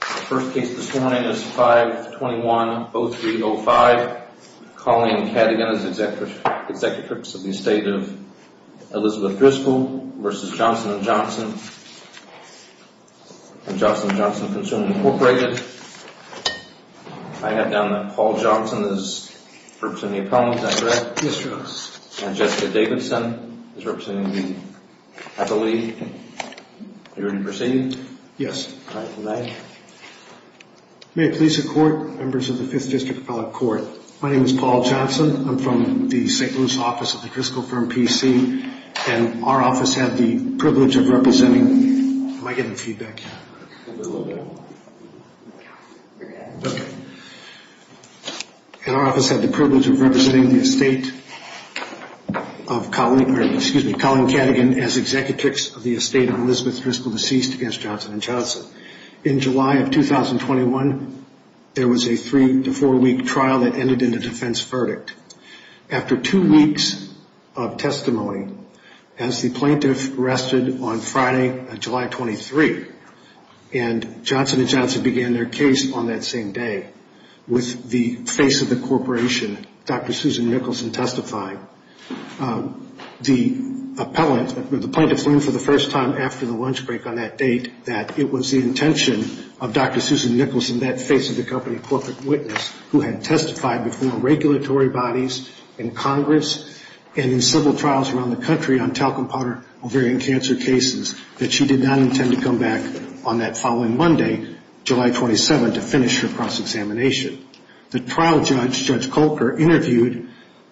The first case this morning is 521-0305. Colleen Cadigan is the executive of the estate of Elizabeth Driscoll v. Johnson & Johnson & Johnson & Johnson & Johnson Consumer Incorporated. I have down that Paul Johnson is representing the appellant, is that correct? Yes, your honor. And Jessica Davidson is representing the appellee. Are you ready to proceed? Yes. All right, go ahead. May it please the court, members of the 5th District Appellate Court, my name is Paul Johnson. I'm from the St. Louis office of the Driscoll firm PC. And our office had the privilege of representing Colleen Cadigan as executive of the estate of Elizabeth Driscoll v. Johnson & Johnson. In July of 2021, there was a three to four week trial that ended in a defense verdict. After two weeks of testimony, as the plaintiff rested on Friday, July 23, and Johnson & Johnson began their case on that same day with the face of the corporation, Dr. Susan Mickelson testifying, The appellant, the plaintiff learned for the first time after the lunch break on that date that it was the intention of Dr. Susan Mickelson, that face of the company corporate witness, who had testified before regulatory bodies in Congress and in civil trials around the country on talcum powder ovarian cancer cases, that she did not intend to come back on that following Monday, July 27, to finish her cross-examination. The trial judge, Judge Colker, interviewed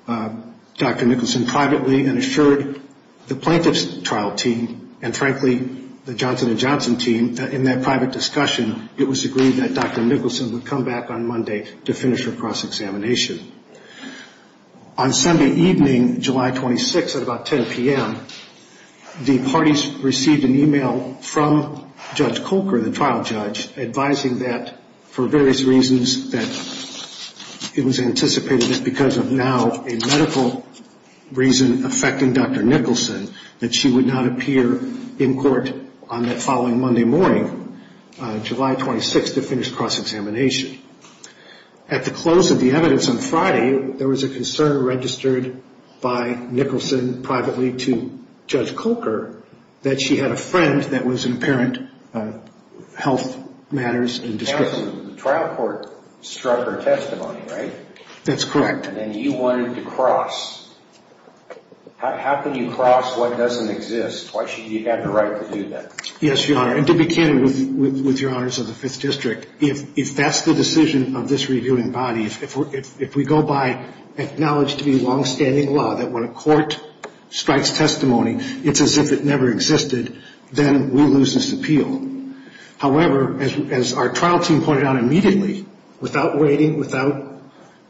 Dr. Mickelson privately and assured the plaintiff's trial team, and frankly, the Johnson & Johnson team, that in that private discussion, it was agreed that Dr. Mickelson would come back on Monday to finish her cross-examination. On Sunday evening, July 26, at about 10 p.m., the parties received an email from Judge Colker, the trial judge, advising that for various reasons, that it was anticipated that because of now a medical reason affecting Dr. Mickelson, that she would not appear in court on that following Monday morning, July 26, to finish cross-examination. At the close of the evidence on Friday, there was a concern registered by Mickelson privately to Judge Colker, that she had a friend that was in apparent health matters and discretion. The trial court struck her testimony, right? That's correct. And then you wanted to cross. How can you cross what doesn't exist? Why should you have the right to do that? Yes, Your Honor, and to be candid with Your Honors of the Fifth District, if that's the decision of this reviewing body, if we go by acknowledged to be longstanding law, that when a court strikes testimony, it's as if it never existed, then we lose this appeal. However, as our trial team pointed out immediately, without waiting, without,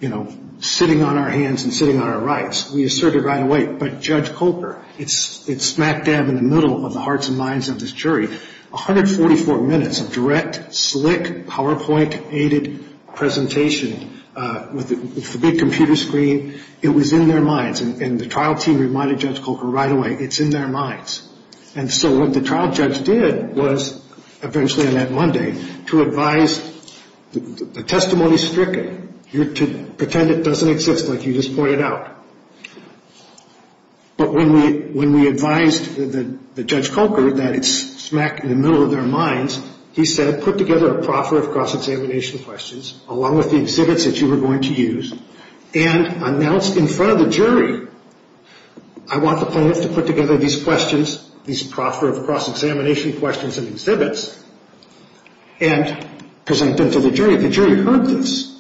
you know, sitting on our hands and sitting on our rights, we asserted right away, but Judge Colker, it's smack dab in the middle of the hearts and minds of this jury, 144 minutes of direct, slick, PowerPoint-aided presentation with the big computer screen, it was in their minds. And the trial team reminded Judge Colker right away, it's in their minds. And so what the trial judge did was, eventually on that Monday, to advise the testimony's stricken. You're to pretend it doesn't exist like you just pointed out. But when we advised the Judge Colker that it's smack in the middle of their minds, he said, put together a proffer of cross-examination questions, along with the exhibits that you were going to use, and announced in front of the jury, I want the plaintiff to put together these questions, these proffer of cross-examination questions and exhibits, and present them to the jury. And the jury heard this.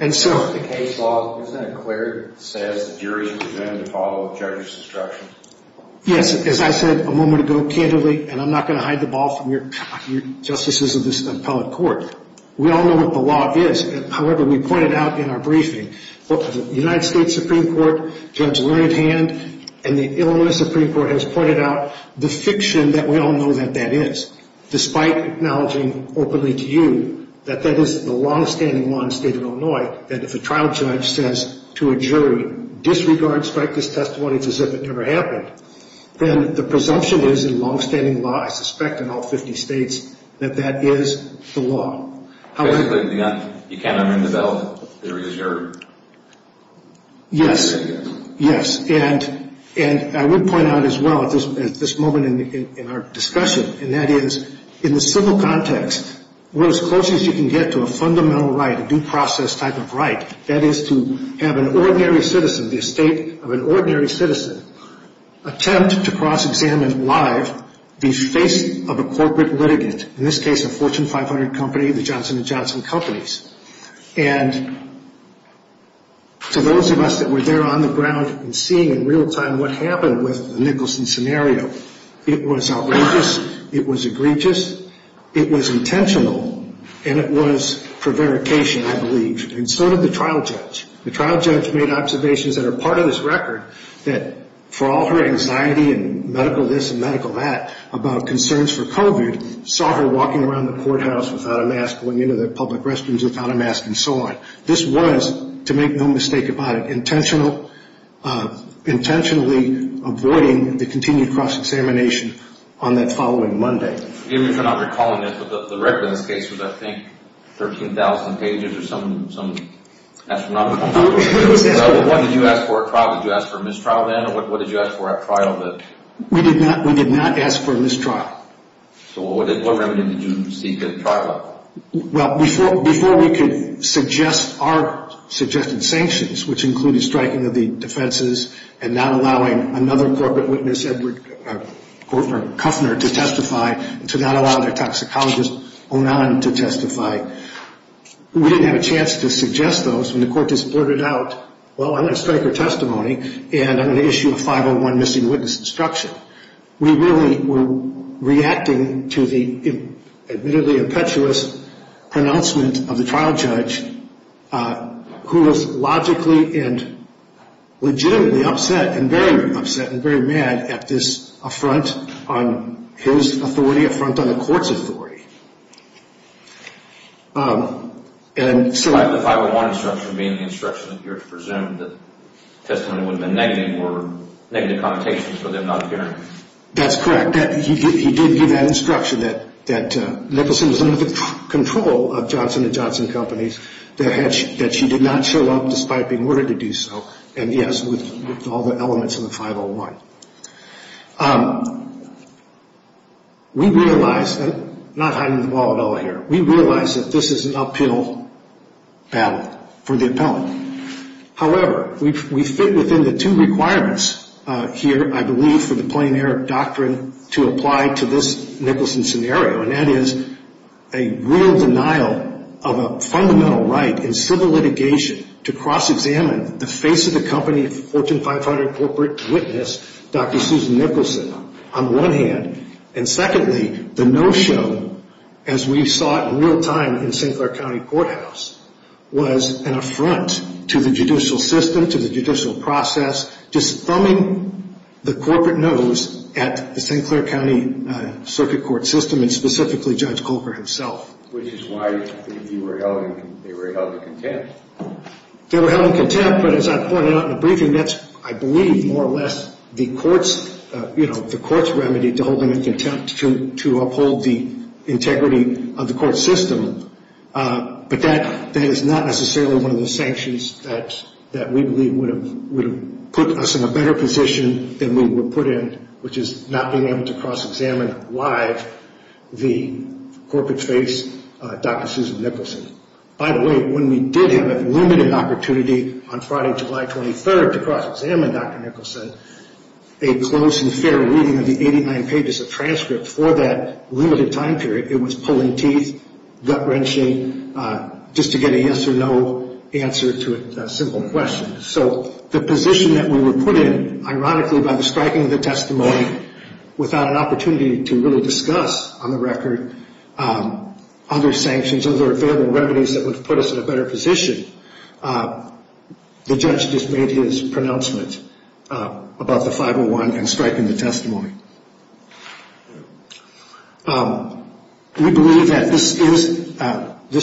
And so... The case law isn't it clear that it says the jury is presented to follow a judge's instruction? Yes, as I said a moment ago, candidly, and I'm not going to hide the ball from your justices of this appellate court. We all know what the law is. However, we pointed out in our briefing, the United States Supreme Court, Judge Learned Hand, and the Illinois Supreme Court has pointed out the fiction that we all know that that is, despite acknowledging openly to you, that that is the long-standing law in the state of Illinois, that if a trial judge says to a jury, disregard, strike this testimony as if it never happened, then the presumption is in long-standing law, I suspect in all 50 states, that that is the law. Basically, you can't unring the bell. The jury is your... Yes. Yes. And I would point out as well at this moment in our discussion, and that is, in the civil context, we're as close as you can get to a fundamental right, a due process type of right, that is to have an ordinary citizen, the estate of an ordinary citizen, attempt to cross-examine live the face of a corporate litigant, in this case a Fortune 500 company, the Johnson & Johnson companies. And to those of us that were there on the ground and seeing in real time what happened with the Nicholson scenario, it was outrageous, it was egregious, it was intentional, and it was prevarication, I believe. And so did the trial judge. The trial judge made observations that are part of this record, that for all her anxiety and medical this and medical that about concerns for COVID, saw her walking around the courthouse without a mask, going into the public restrooms without a mask, and so on. This was, to make no mistake about it, intentionally avoiding the continued cross-examination on that following Monday. Even if I'm not recalling it, but the record in this case was, I think, 13,000 pages or some astronomical number. What did you ask for at trial? Did you ask for a mistrial then, or what did you ask for at trial? We did not ask for a mistrial. So what remedy did you seek at trial? Well, before we could suggest our suggested sanctions, which included striking of the defenses and not allowing another corporate witness, Edward Kuffner, to testify, to not allow their toxicologist, Onan, to testify, we didn't have a chance to suggest those when the court just blurted out, well, I'm going to strike her testimony and I'm going to issue a 501 missing witness instruction. But we really were reacting to the admittedly impetuous pronouncement of the trial judge who was logically and legitimately upset and very upset and very mad at this affront on his authority, affront on the court's authority. The 501 instruction being the instruction that you're to presume that the testimony would have been negative or negative connotations for them not appearing. That's correct. He did give that instruction that Nicholson was under the control of Johnson & Johnson Companies, that she did not show up despite being ordered to do so, and yes, with all the elements of the 501. We realized, and I'm not hiding the ball at all here, we realized that this is an uphill battle for the appellant. However, we fit within the two requirements here, I believe, for the plein air doctrine to apply to this Nicholson scenario, and that is a real denial of a fundamental right in civil litigation to cross-examine the face of the company Fortune 500 corporate witness, Dr. Susan Nicholson, on one hand, and secondly, the no-show, as we saw it in real time in St. Clair County Courthouse, was an affront to the judicial system, to the judicial process, just thumbing the corporate nose at the St. Clair County Circuit Court system, and specifically Judge Colker himself. Which is why they were held in contempt. They were held in contempt, but as I pointed out in the briefing, that's, I believe, more or less the court's remedy to uphold the integrity of the court system. But that is not necessarily one of the sanctions that we believe would have put us in a better position than we were put in, which is not being able to cross-examine live the corporate face, Dr. Susan Nicholson. By the way, when we did have a limited opportunity on Friday, July 23rd, to cross-examine Dr. Nicholson, a close and fair reading of the 89 pages of transcript for that limited time period, it was pulling teeth, gut-wrenching, just to get a yes or no answer to a simple question. So the position that we were put in, ironically, by the striking of the testimony, without an opportunity to really discuss, on the record, other sanctions, other available remedies that would have put us in a better position, the judge just made his pronouncement about the 501 and striking the testimony. We believe that this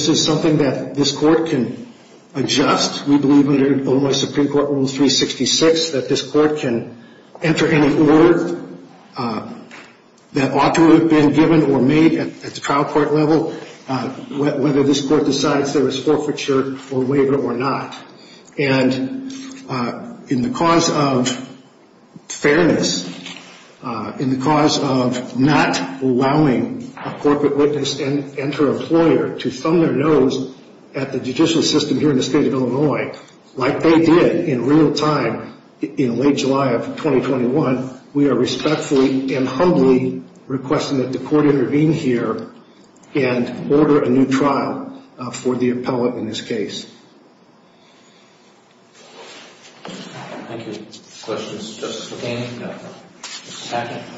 is something that this court can adjust. We believe under Illinois Supreme Court Rule 366 that this court can enter any order that ought to have been given or made at the trial court level, whether this court decides there is forfeiture or waiver or not. And in the cause of fairness, in the cause of not allowing a corporate witness and her employer to thumb their nose at the judicial system here in the state of Illinois, like they did in real time in late July of 2021, we are respectfully and humbly requesting that the court intervene here and order a new trial for the appellate in this case. Thank you. Questions? Justice McCain?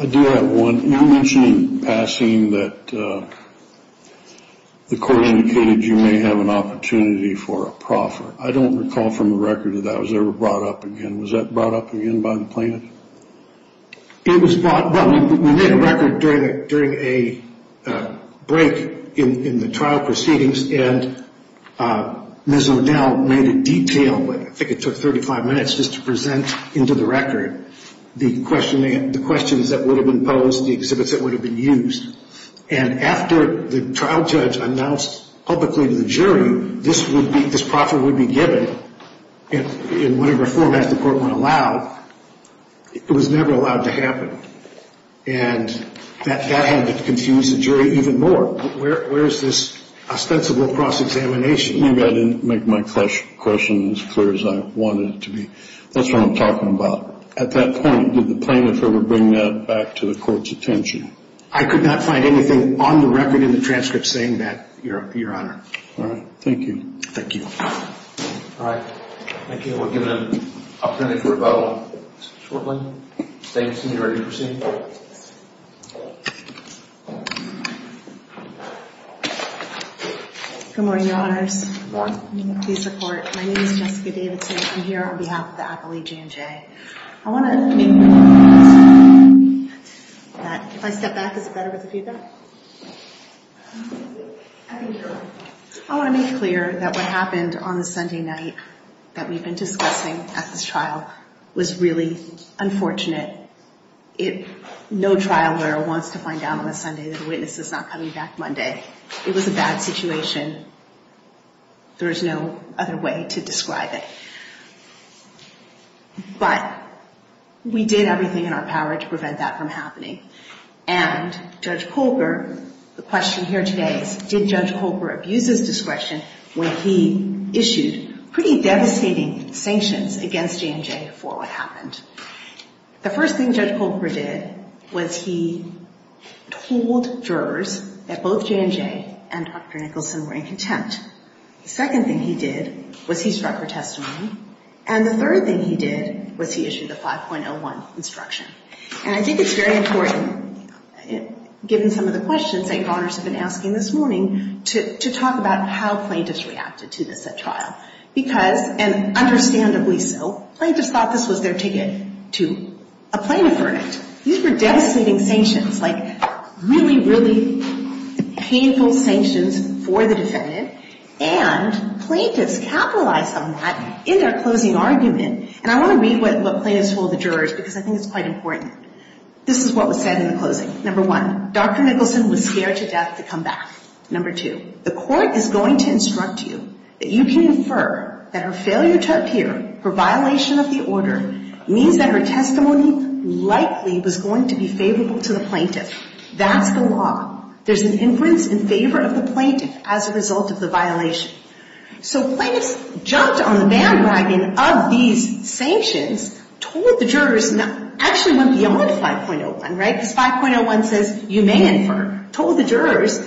I do have one. You mentioned in passing that the court indicated you may have an opportunity for a proffer. I don't recall from the record that that was ever brought up again. Was that brought up again by the plaintiff? It was brought up. We made a record during a break in the trial proceedings, and Ms. O'Dell made a detail, I think it took 35 minutes just to present into the record the questions that would have been posed, the exhibits that would have been used. And after the trial judge announced publicly to the jury this proffer would be given in whatever format the court would allow, it was never allowed to happen. And that had to confuse the jury even more. Where is this ostensible cross-examination? Maybe I didn't make my question as clear as I wanted it to be. That's what I'm talking about. At that point, did the plaintiff ever bring that back to the court's attention? I could not find anything on the record in the transcript saying that, Your Honor. All right. Thank you. Thank you. All right. Thank you. We'll give an opportunity for a vote shortly. Thanks, and you're ready to proceed. Good morning, Your Honors. Good morning. Please report. My name is Jessica Davidson. I'm here on behalf of the Appellee G&J. I want to make clear that if I step back, is it better with the feedback? I want to make clear that what happened on the Sunday night that we've been discussing at this trial was really unfortunate. No trial lawyer wants to find out on a Sunday that a witness is not coming back Monday. It was a bad situation. There is no other way to describe it. But we did everything in our power to prevent that from happening. And Judge Colbert, the question here today is, did Judge Colbert abuse his discretion when he issued pretty devastating sanctions against J&J for what happened? The first thing Judge Colbert did was he told jurors that both J&J and Dr. Nicholson were in contempt. The second thing he did was he struck her testimony. And the third thing he did was he issued the 5.01 instruction. And I think it's very important, given some of the questions that Your Honors have been asking this morning, to talk about how plaintiffs reacted to this at trial. Because, and understandably so, plaintiffs thought this was their ticket to a plaintiff verdict. These were devastating sanctions, like really, really painful sanctions for the defendant. And plaintiffs capitalized on that in their closing argument. And I want to read what plaintiffs told the jurors because I think it's quite important. This is what was said in the closing. Number one, Dr. Nicholson was scared to death to come back. Number two, the court is going to instruct you that you can infer that her failure to appear, her violation of the order, means that her testimony likely was going to be favorable to the plaintiff. That's the law. There's an inference in favor of the plaintiff as a result of the violation. So plaintiffs jumped on the bandwagon of these sanctions, told the jurors, actually went beyond 5.01, right, because 5.01 says you may infer, told the jurors,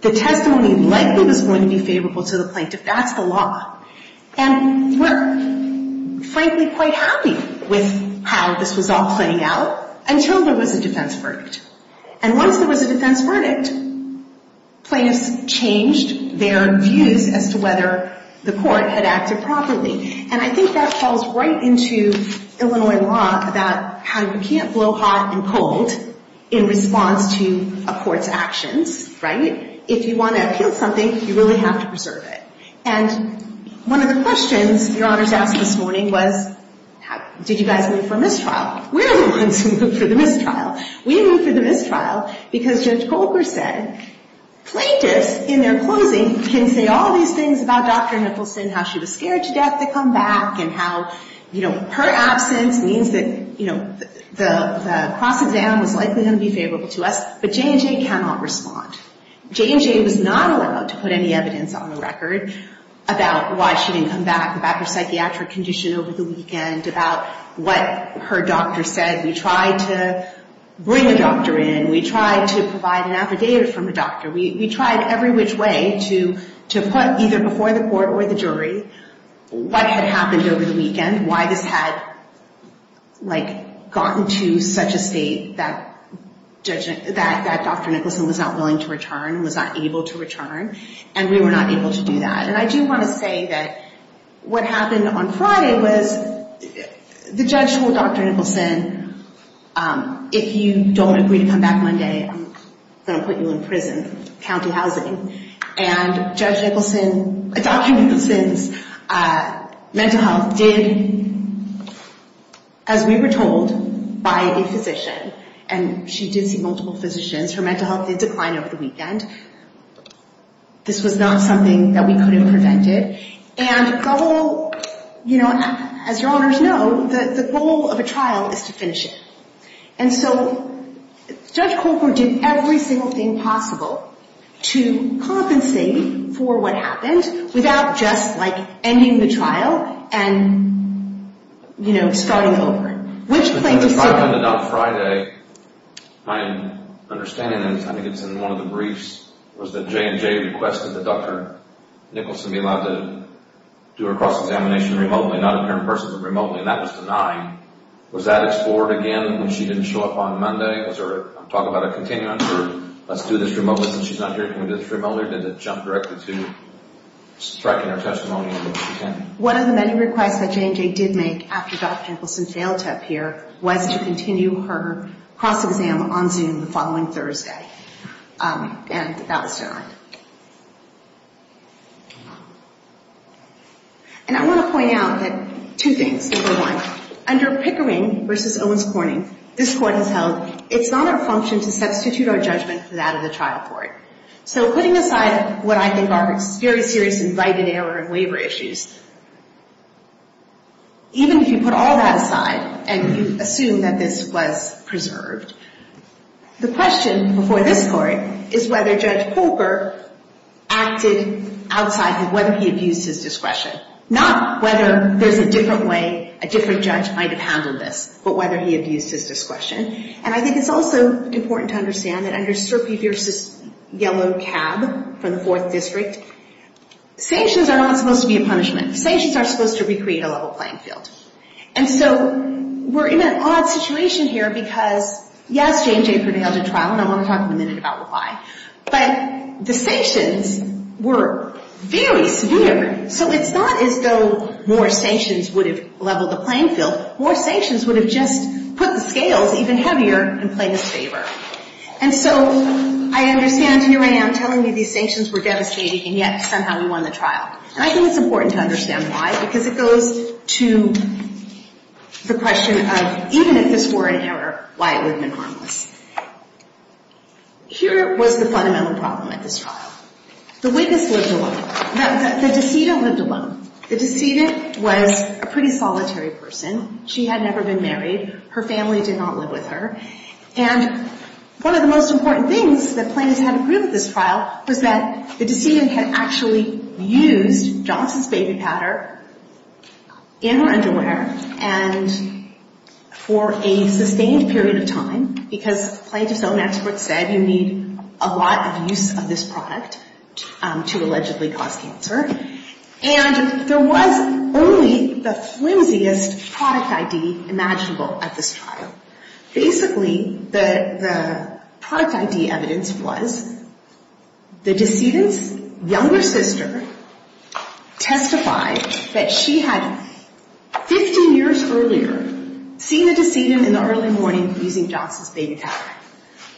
the testimony likely was going to be favorable to the plaintiff. That's the law. And we're frankly quite happy with how this was all playing out until there was a defense verdict. And once there was a defense verdict, plaintiffs changed their views as to whether the court had acted properly. And I think that falls right into Illinois law about how you can't blow hot and cold in response to a court's actions, right? If you want to appeal something, you really have to preserve it. And one of the questions Your Honors asked this morning was did you guys move for a mistrial? We're the ones who moved for the mistrial. We moved for the mistrial because Judge Colker said plaintiffs in their closing can say all these things about Dr. Nicholson, how she was scared to death to come back and how, you know, her absence means that, you know, the cross-exam was likely going to be favorable to us, but J&J cannot respond. J&J was not allowed to put any evidence on the record about why she didn't come back, about her psychiatric condition over the weekend, about what her doctor said. We tried to bring a doctor in. We tried to provide an affidavit from the doctor. We tried every which way to put either before the court or the jury what had happened over the weekend, why this had, like, gotten to such a state that Dr. Nicholson was not willing to return, was not able to return, and we were not able to do that. And I do want to say that what happened on Friday was the judge told Dr. Nicholson, if you don't agree to come back Monday, I'm going to put you in prison, county housing. And Judge Nicholson, Dr. Nicholson's mental health did, as we were told, by a physician. And she did see multiple physicians. Her mental health did decline over the weekend. This was not something that we could have prevented. And the whole, you know, as your honors know, the goal of a trial is to finish it. And so Judge Colcord did every single thing possible to compensate for what happened without just, like, ending the trial and, you know, starting over. Which played the part. It ended up Friday. My understanding is, I think it's in one of the briefs, was that J&J requested that Dr. Nicholson be allowed to do her cross-examination remotely, not in person, but remotely, and that was denied. Was that explored again when she didn't show up on Monday? Was there talk about a continuum? Let's do this remotely since she's not doing this remotely, or did it jump directly to striking her testimony? One of the many requests that J&J did make after Dr. Nicholson failed to appear was to continue her cross-exam on Zoom the following Thursday. And that was denied. And I want to point out two things. Number one, under Pickering v. Owens Corning, this Court has held it's not our function to substitute our judgment for that of the trial court. So putting aside what I think are very serious invited error and waiver issues, even if you put all that aside and you assume that this was preserved, the question before this Court is whether Judge Colbert acted outside of whether he abused his discretion. Not whether there's a different way a different judge might have handled this, but whether he abused his discretion. And I think it's also important to understand that under Serpi v. Yellow Cab from the Fourth District, sanctions are not supposed to be a punishment. Sanctions are supposed to recreate a level playing field. And so we're in an odd situation here because, yes, J&J prevailed at trial, and I want to talk in a minute about why. But the sanctions were very severe. So it's not as though more sanctions would have leveled the playing field. More sanctions would have just put the scales even heavier and played a favor. And so I understand here I am telling you these sanctions were devastating, and yet somehow we won the trial. And I think it's important to understand why, because it goes to the question of even if this were an error, why it would have been harmless. Here was the fundamental problem at this trial. The witness lived alone. The decedent lived alone. The decedent was a pretty solitary person. She had never been married. Her family did not live with her. And one of the most important things that plaintiffs had to prove at this trial was that the decedent had actually used Johnson's baby powder in her underwear and for a sustained period of time, because plaintiffs' own experts said you need a lot of use of this product to allegedly cause cancer. And there was only the flimsiest product ID imaginable at this trial. Basically, the product ID evidence was the decedent's younger sister testified that she had 15 years earlier seen the decedent in the early morning using Johnson's baby powder.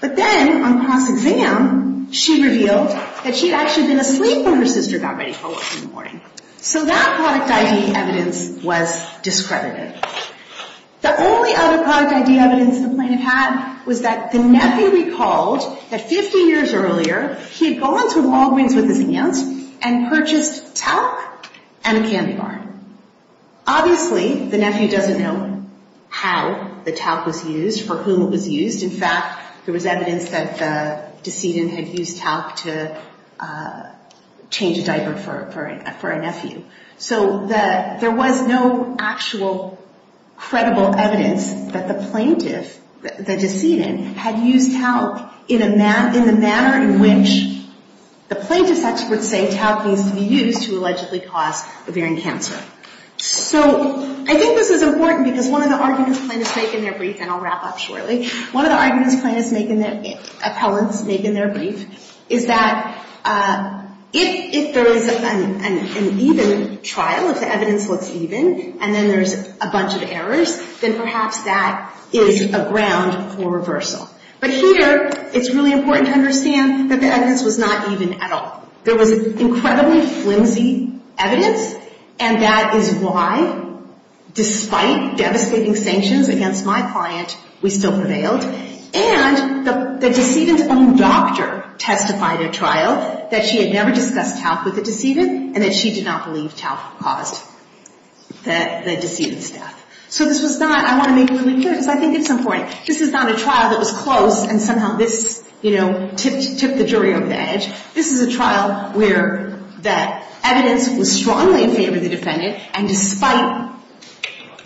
But then on cross-exam, she revealed that she had actually been asleep when her sister got ready for work in the morning. So that product ID evidence was discredited. The only other product ID evidence the plaintiff had was that the nephew recalled that 15 years earlier, he had gone to Walgreens with his aunt and purchased talc and a candy bar. Obviously, the nephew doesn't know how the talc was used, for whom it was used. In fact, there was evidence that the decedent had used talc to change a diaper for a nephew. So there was no actual credible evidence that the plaintiff, the decedent, had used talc in the manner in which the plaintiff's experts say talc needs to be used to allegedly cause ovarian cancer. So I think this is important because one of the arguments plaintiffs make in their brief, and I'll wrap up shortly, one of the arguments appellants make in their brief is that if there is an even trial, if the evidence looks even, and then there's a bunch of errors, then perhaps that is a ground for reversal. But here, it's really important to understand that the evidence was not even at all. There was incredibly flimsy evidence, and that is why, despite devastating sanctions against my client, we still prevailed. And the decedent's own doctor testified at trial that she had never discussed talc with the decedent and that she did not believe talc caused the decedent's death. So this was not, I want to make it really clear because I think it's important, this is not a trial that was close and somehow this, you know, tipped the jury over the edge. This is a trial where the evidence was strongly in favor of the defendant, and despite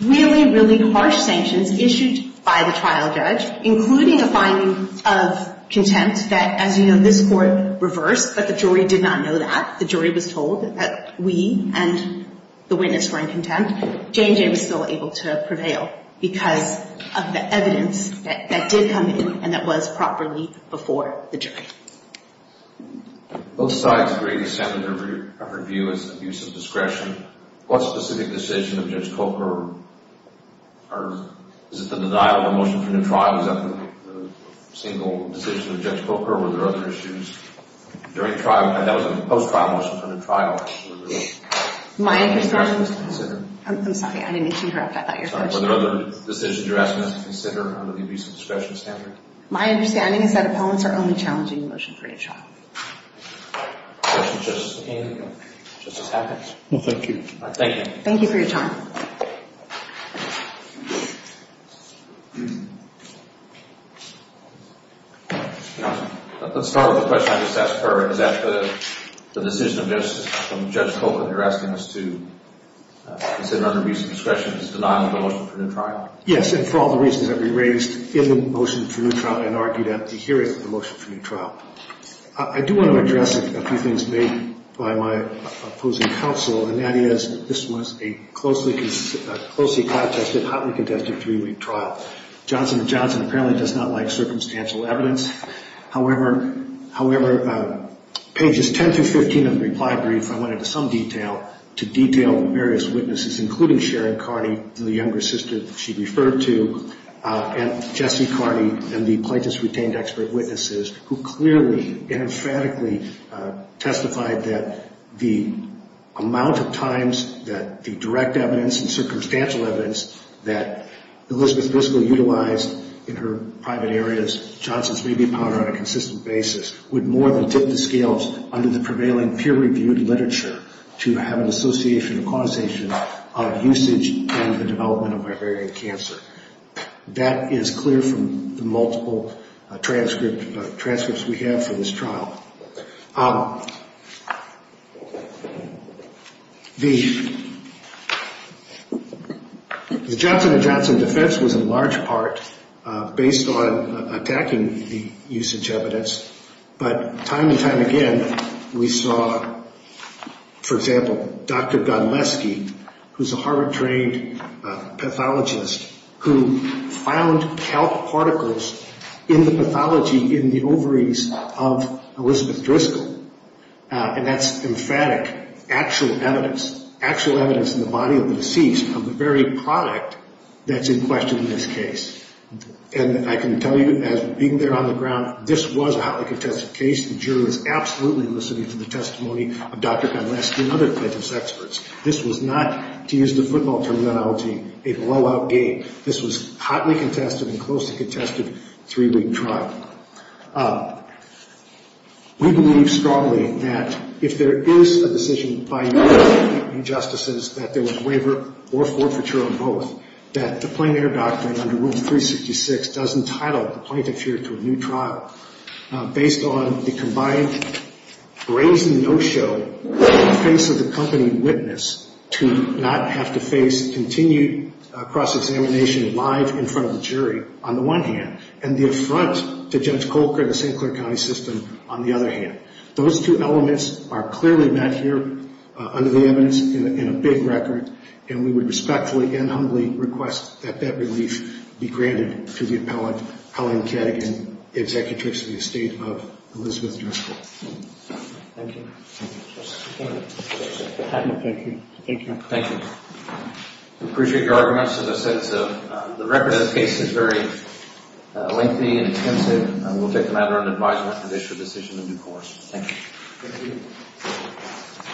really, really harsh sanctions issued by the trial judge, including a finding of contempt that, as you know, this court reversed, but the jury did not know that. The jury was told that we and the witness were in contempt. Jane Jay was still able to prevail because of the evidence that did come in and that was properly before the jury. Both sides agree the standard of review is abuse of discretion. What specific decision of Judge Coker, or is it the denial of a motion from the trial? Is that the single decision of Judge Coker, or were there other issues during trial? That was a post-trial motion from the trial. My understanding is that opponents are only challenging the judge. I'm sorry, I didn't mean to interrupt. I thought you were going to ask a question. Were there other decisions you're asking us to consider under the abuse of discretion standard? My understanding is that opponents are only challenging the motion for a trial. Thank you. Thank you. Thank you for your time. Let's start with the question I just asked her. Is that the decision of Judge Coker that you're asking us to consider under abuse of discretion? Is it the denial of a motion from the trial? Yes, and for all the reasons that we raised in the motion for new trial and argued at the hearing of the motion for new trial. I do want to address a few things made by my opposing counsel, and that is this was a closely contested, hotly contested three-week trial. Johnson & Johnson apparently does not like circumstantial evidence. However, pages 10 through 15 of the reply brief, I went into some detail to detail various witnesses, including Sharon Carney, the younger sister that she referred to, and Jesse Carney, and the plaintiff's retained expert witnesses, who clearly emphatically testified that the amount of times that the direct evidence and circumstantial evidence that Elizabeth Briscoe utilized in her private areas, Johnson's maybe upon her on a consistent basis, would more than tip the scales under the prevailing peer-reviewed literature to have an association or quantization of usage and the development of ovarian cancer. That is clear from the multiple transcripts we have for this trial. The Johnson & Johnson defense was in large part based on attacking the usage evidence, but time and time again we saw, for example, Dr. Godleski, who is a Harvard-trained pathologist, who found calc particles in the pathology in the ovaries of Elizabeth Briscoe. And that's emphatic actual evidence, actual evidence in the body of the deceased of the very product that's in question in this case. And I can tell you, being there on the ground, this was a hotly contested case. The jury was absolutely listening to the testimony of Dr. Godleski and other plaintiff's experts. This was not, to use the football terminology, a blowout game. This was a hotly contested and closely contested three-week trial. We believe strongly that if there is a decision by new judges, new justices, that there was waiver or forfeiture on both, that the Plain Air Doctrine under Rule 366 does entitle the plaintiff here to a new trial based on the combined brazen no-show in the face of the company witness to not have to face continued cross-examination live in front of the jury on the one hand, and the affront to Judge Colker and the St. Clair County System on the other hand. Those two elements are clearly met here under the evidence in a big record, and we would respectfully and humbly request that that relief be granted to the appellant, Colleen Cadigan, the Executrix of the Estate of Elizabeth Driscoll. Thank you. Thank you. Thank you. Thank you. We appreciate your arguments in the sense of the record of the case is very lengthy and intensive, and we'll take the matter under advisement to issue a decision in due course. Thank you. Thank you.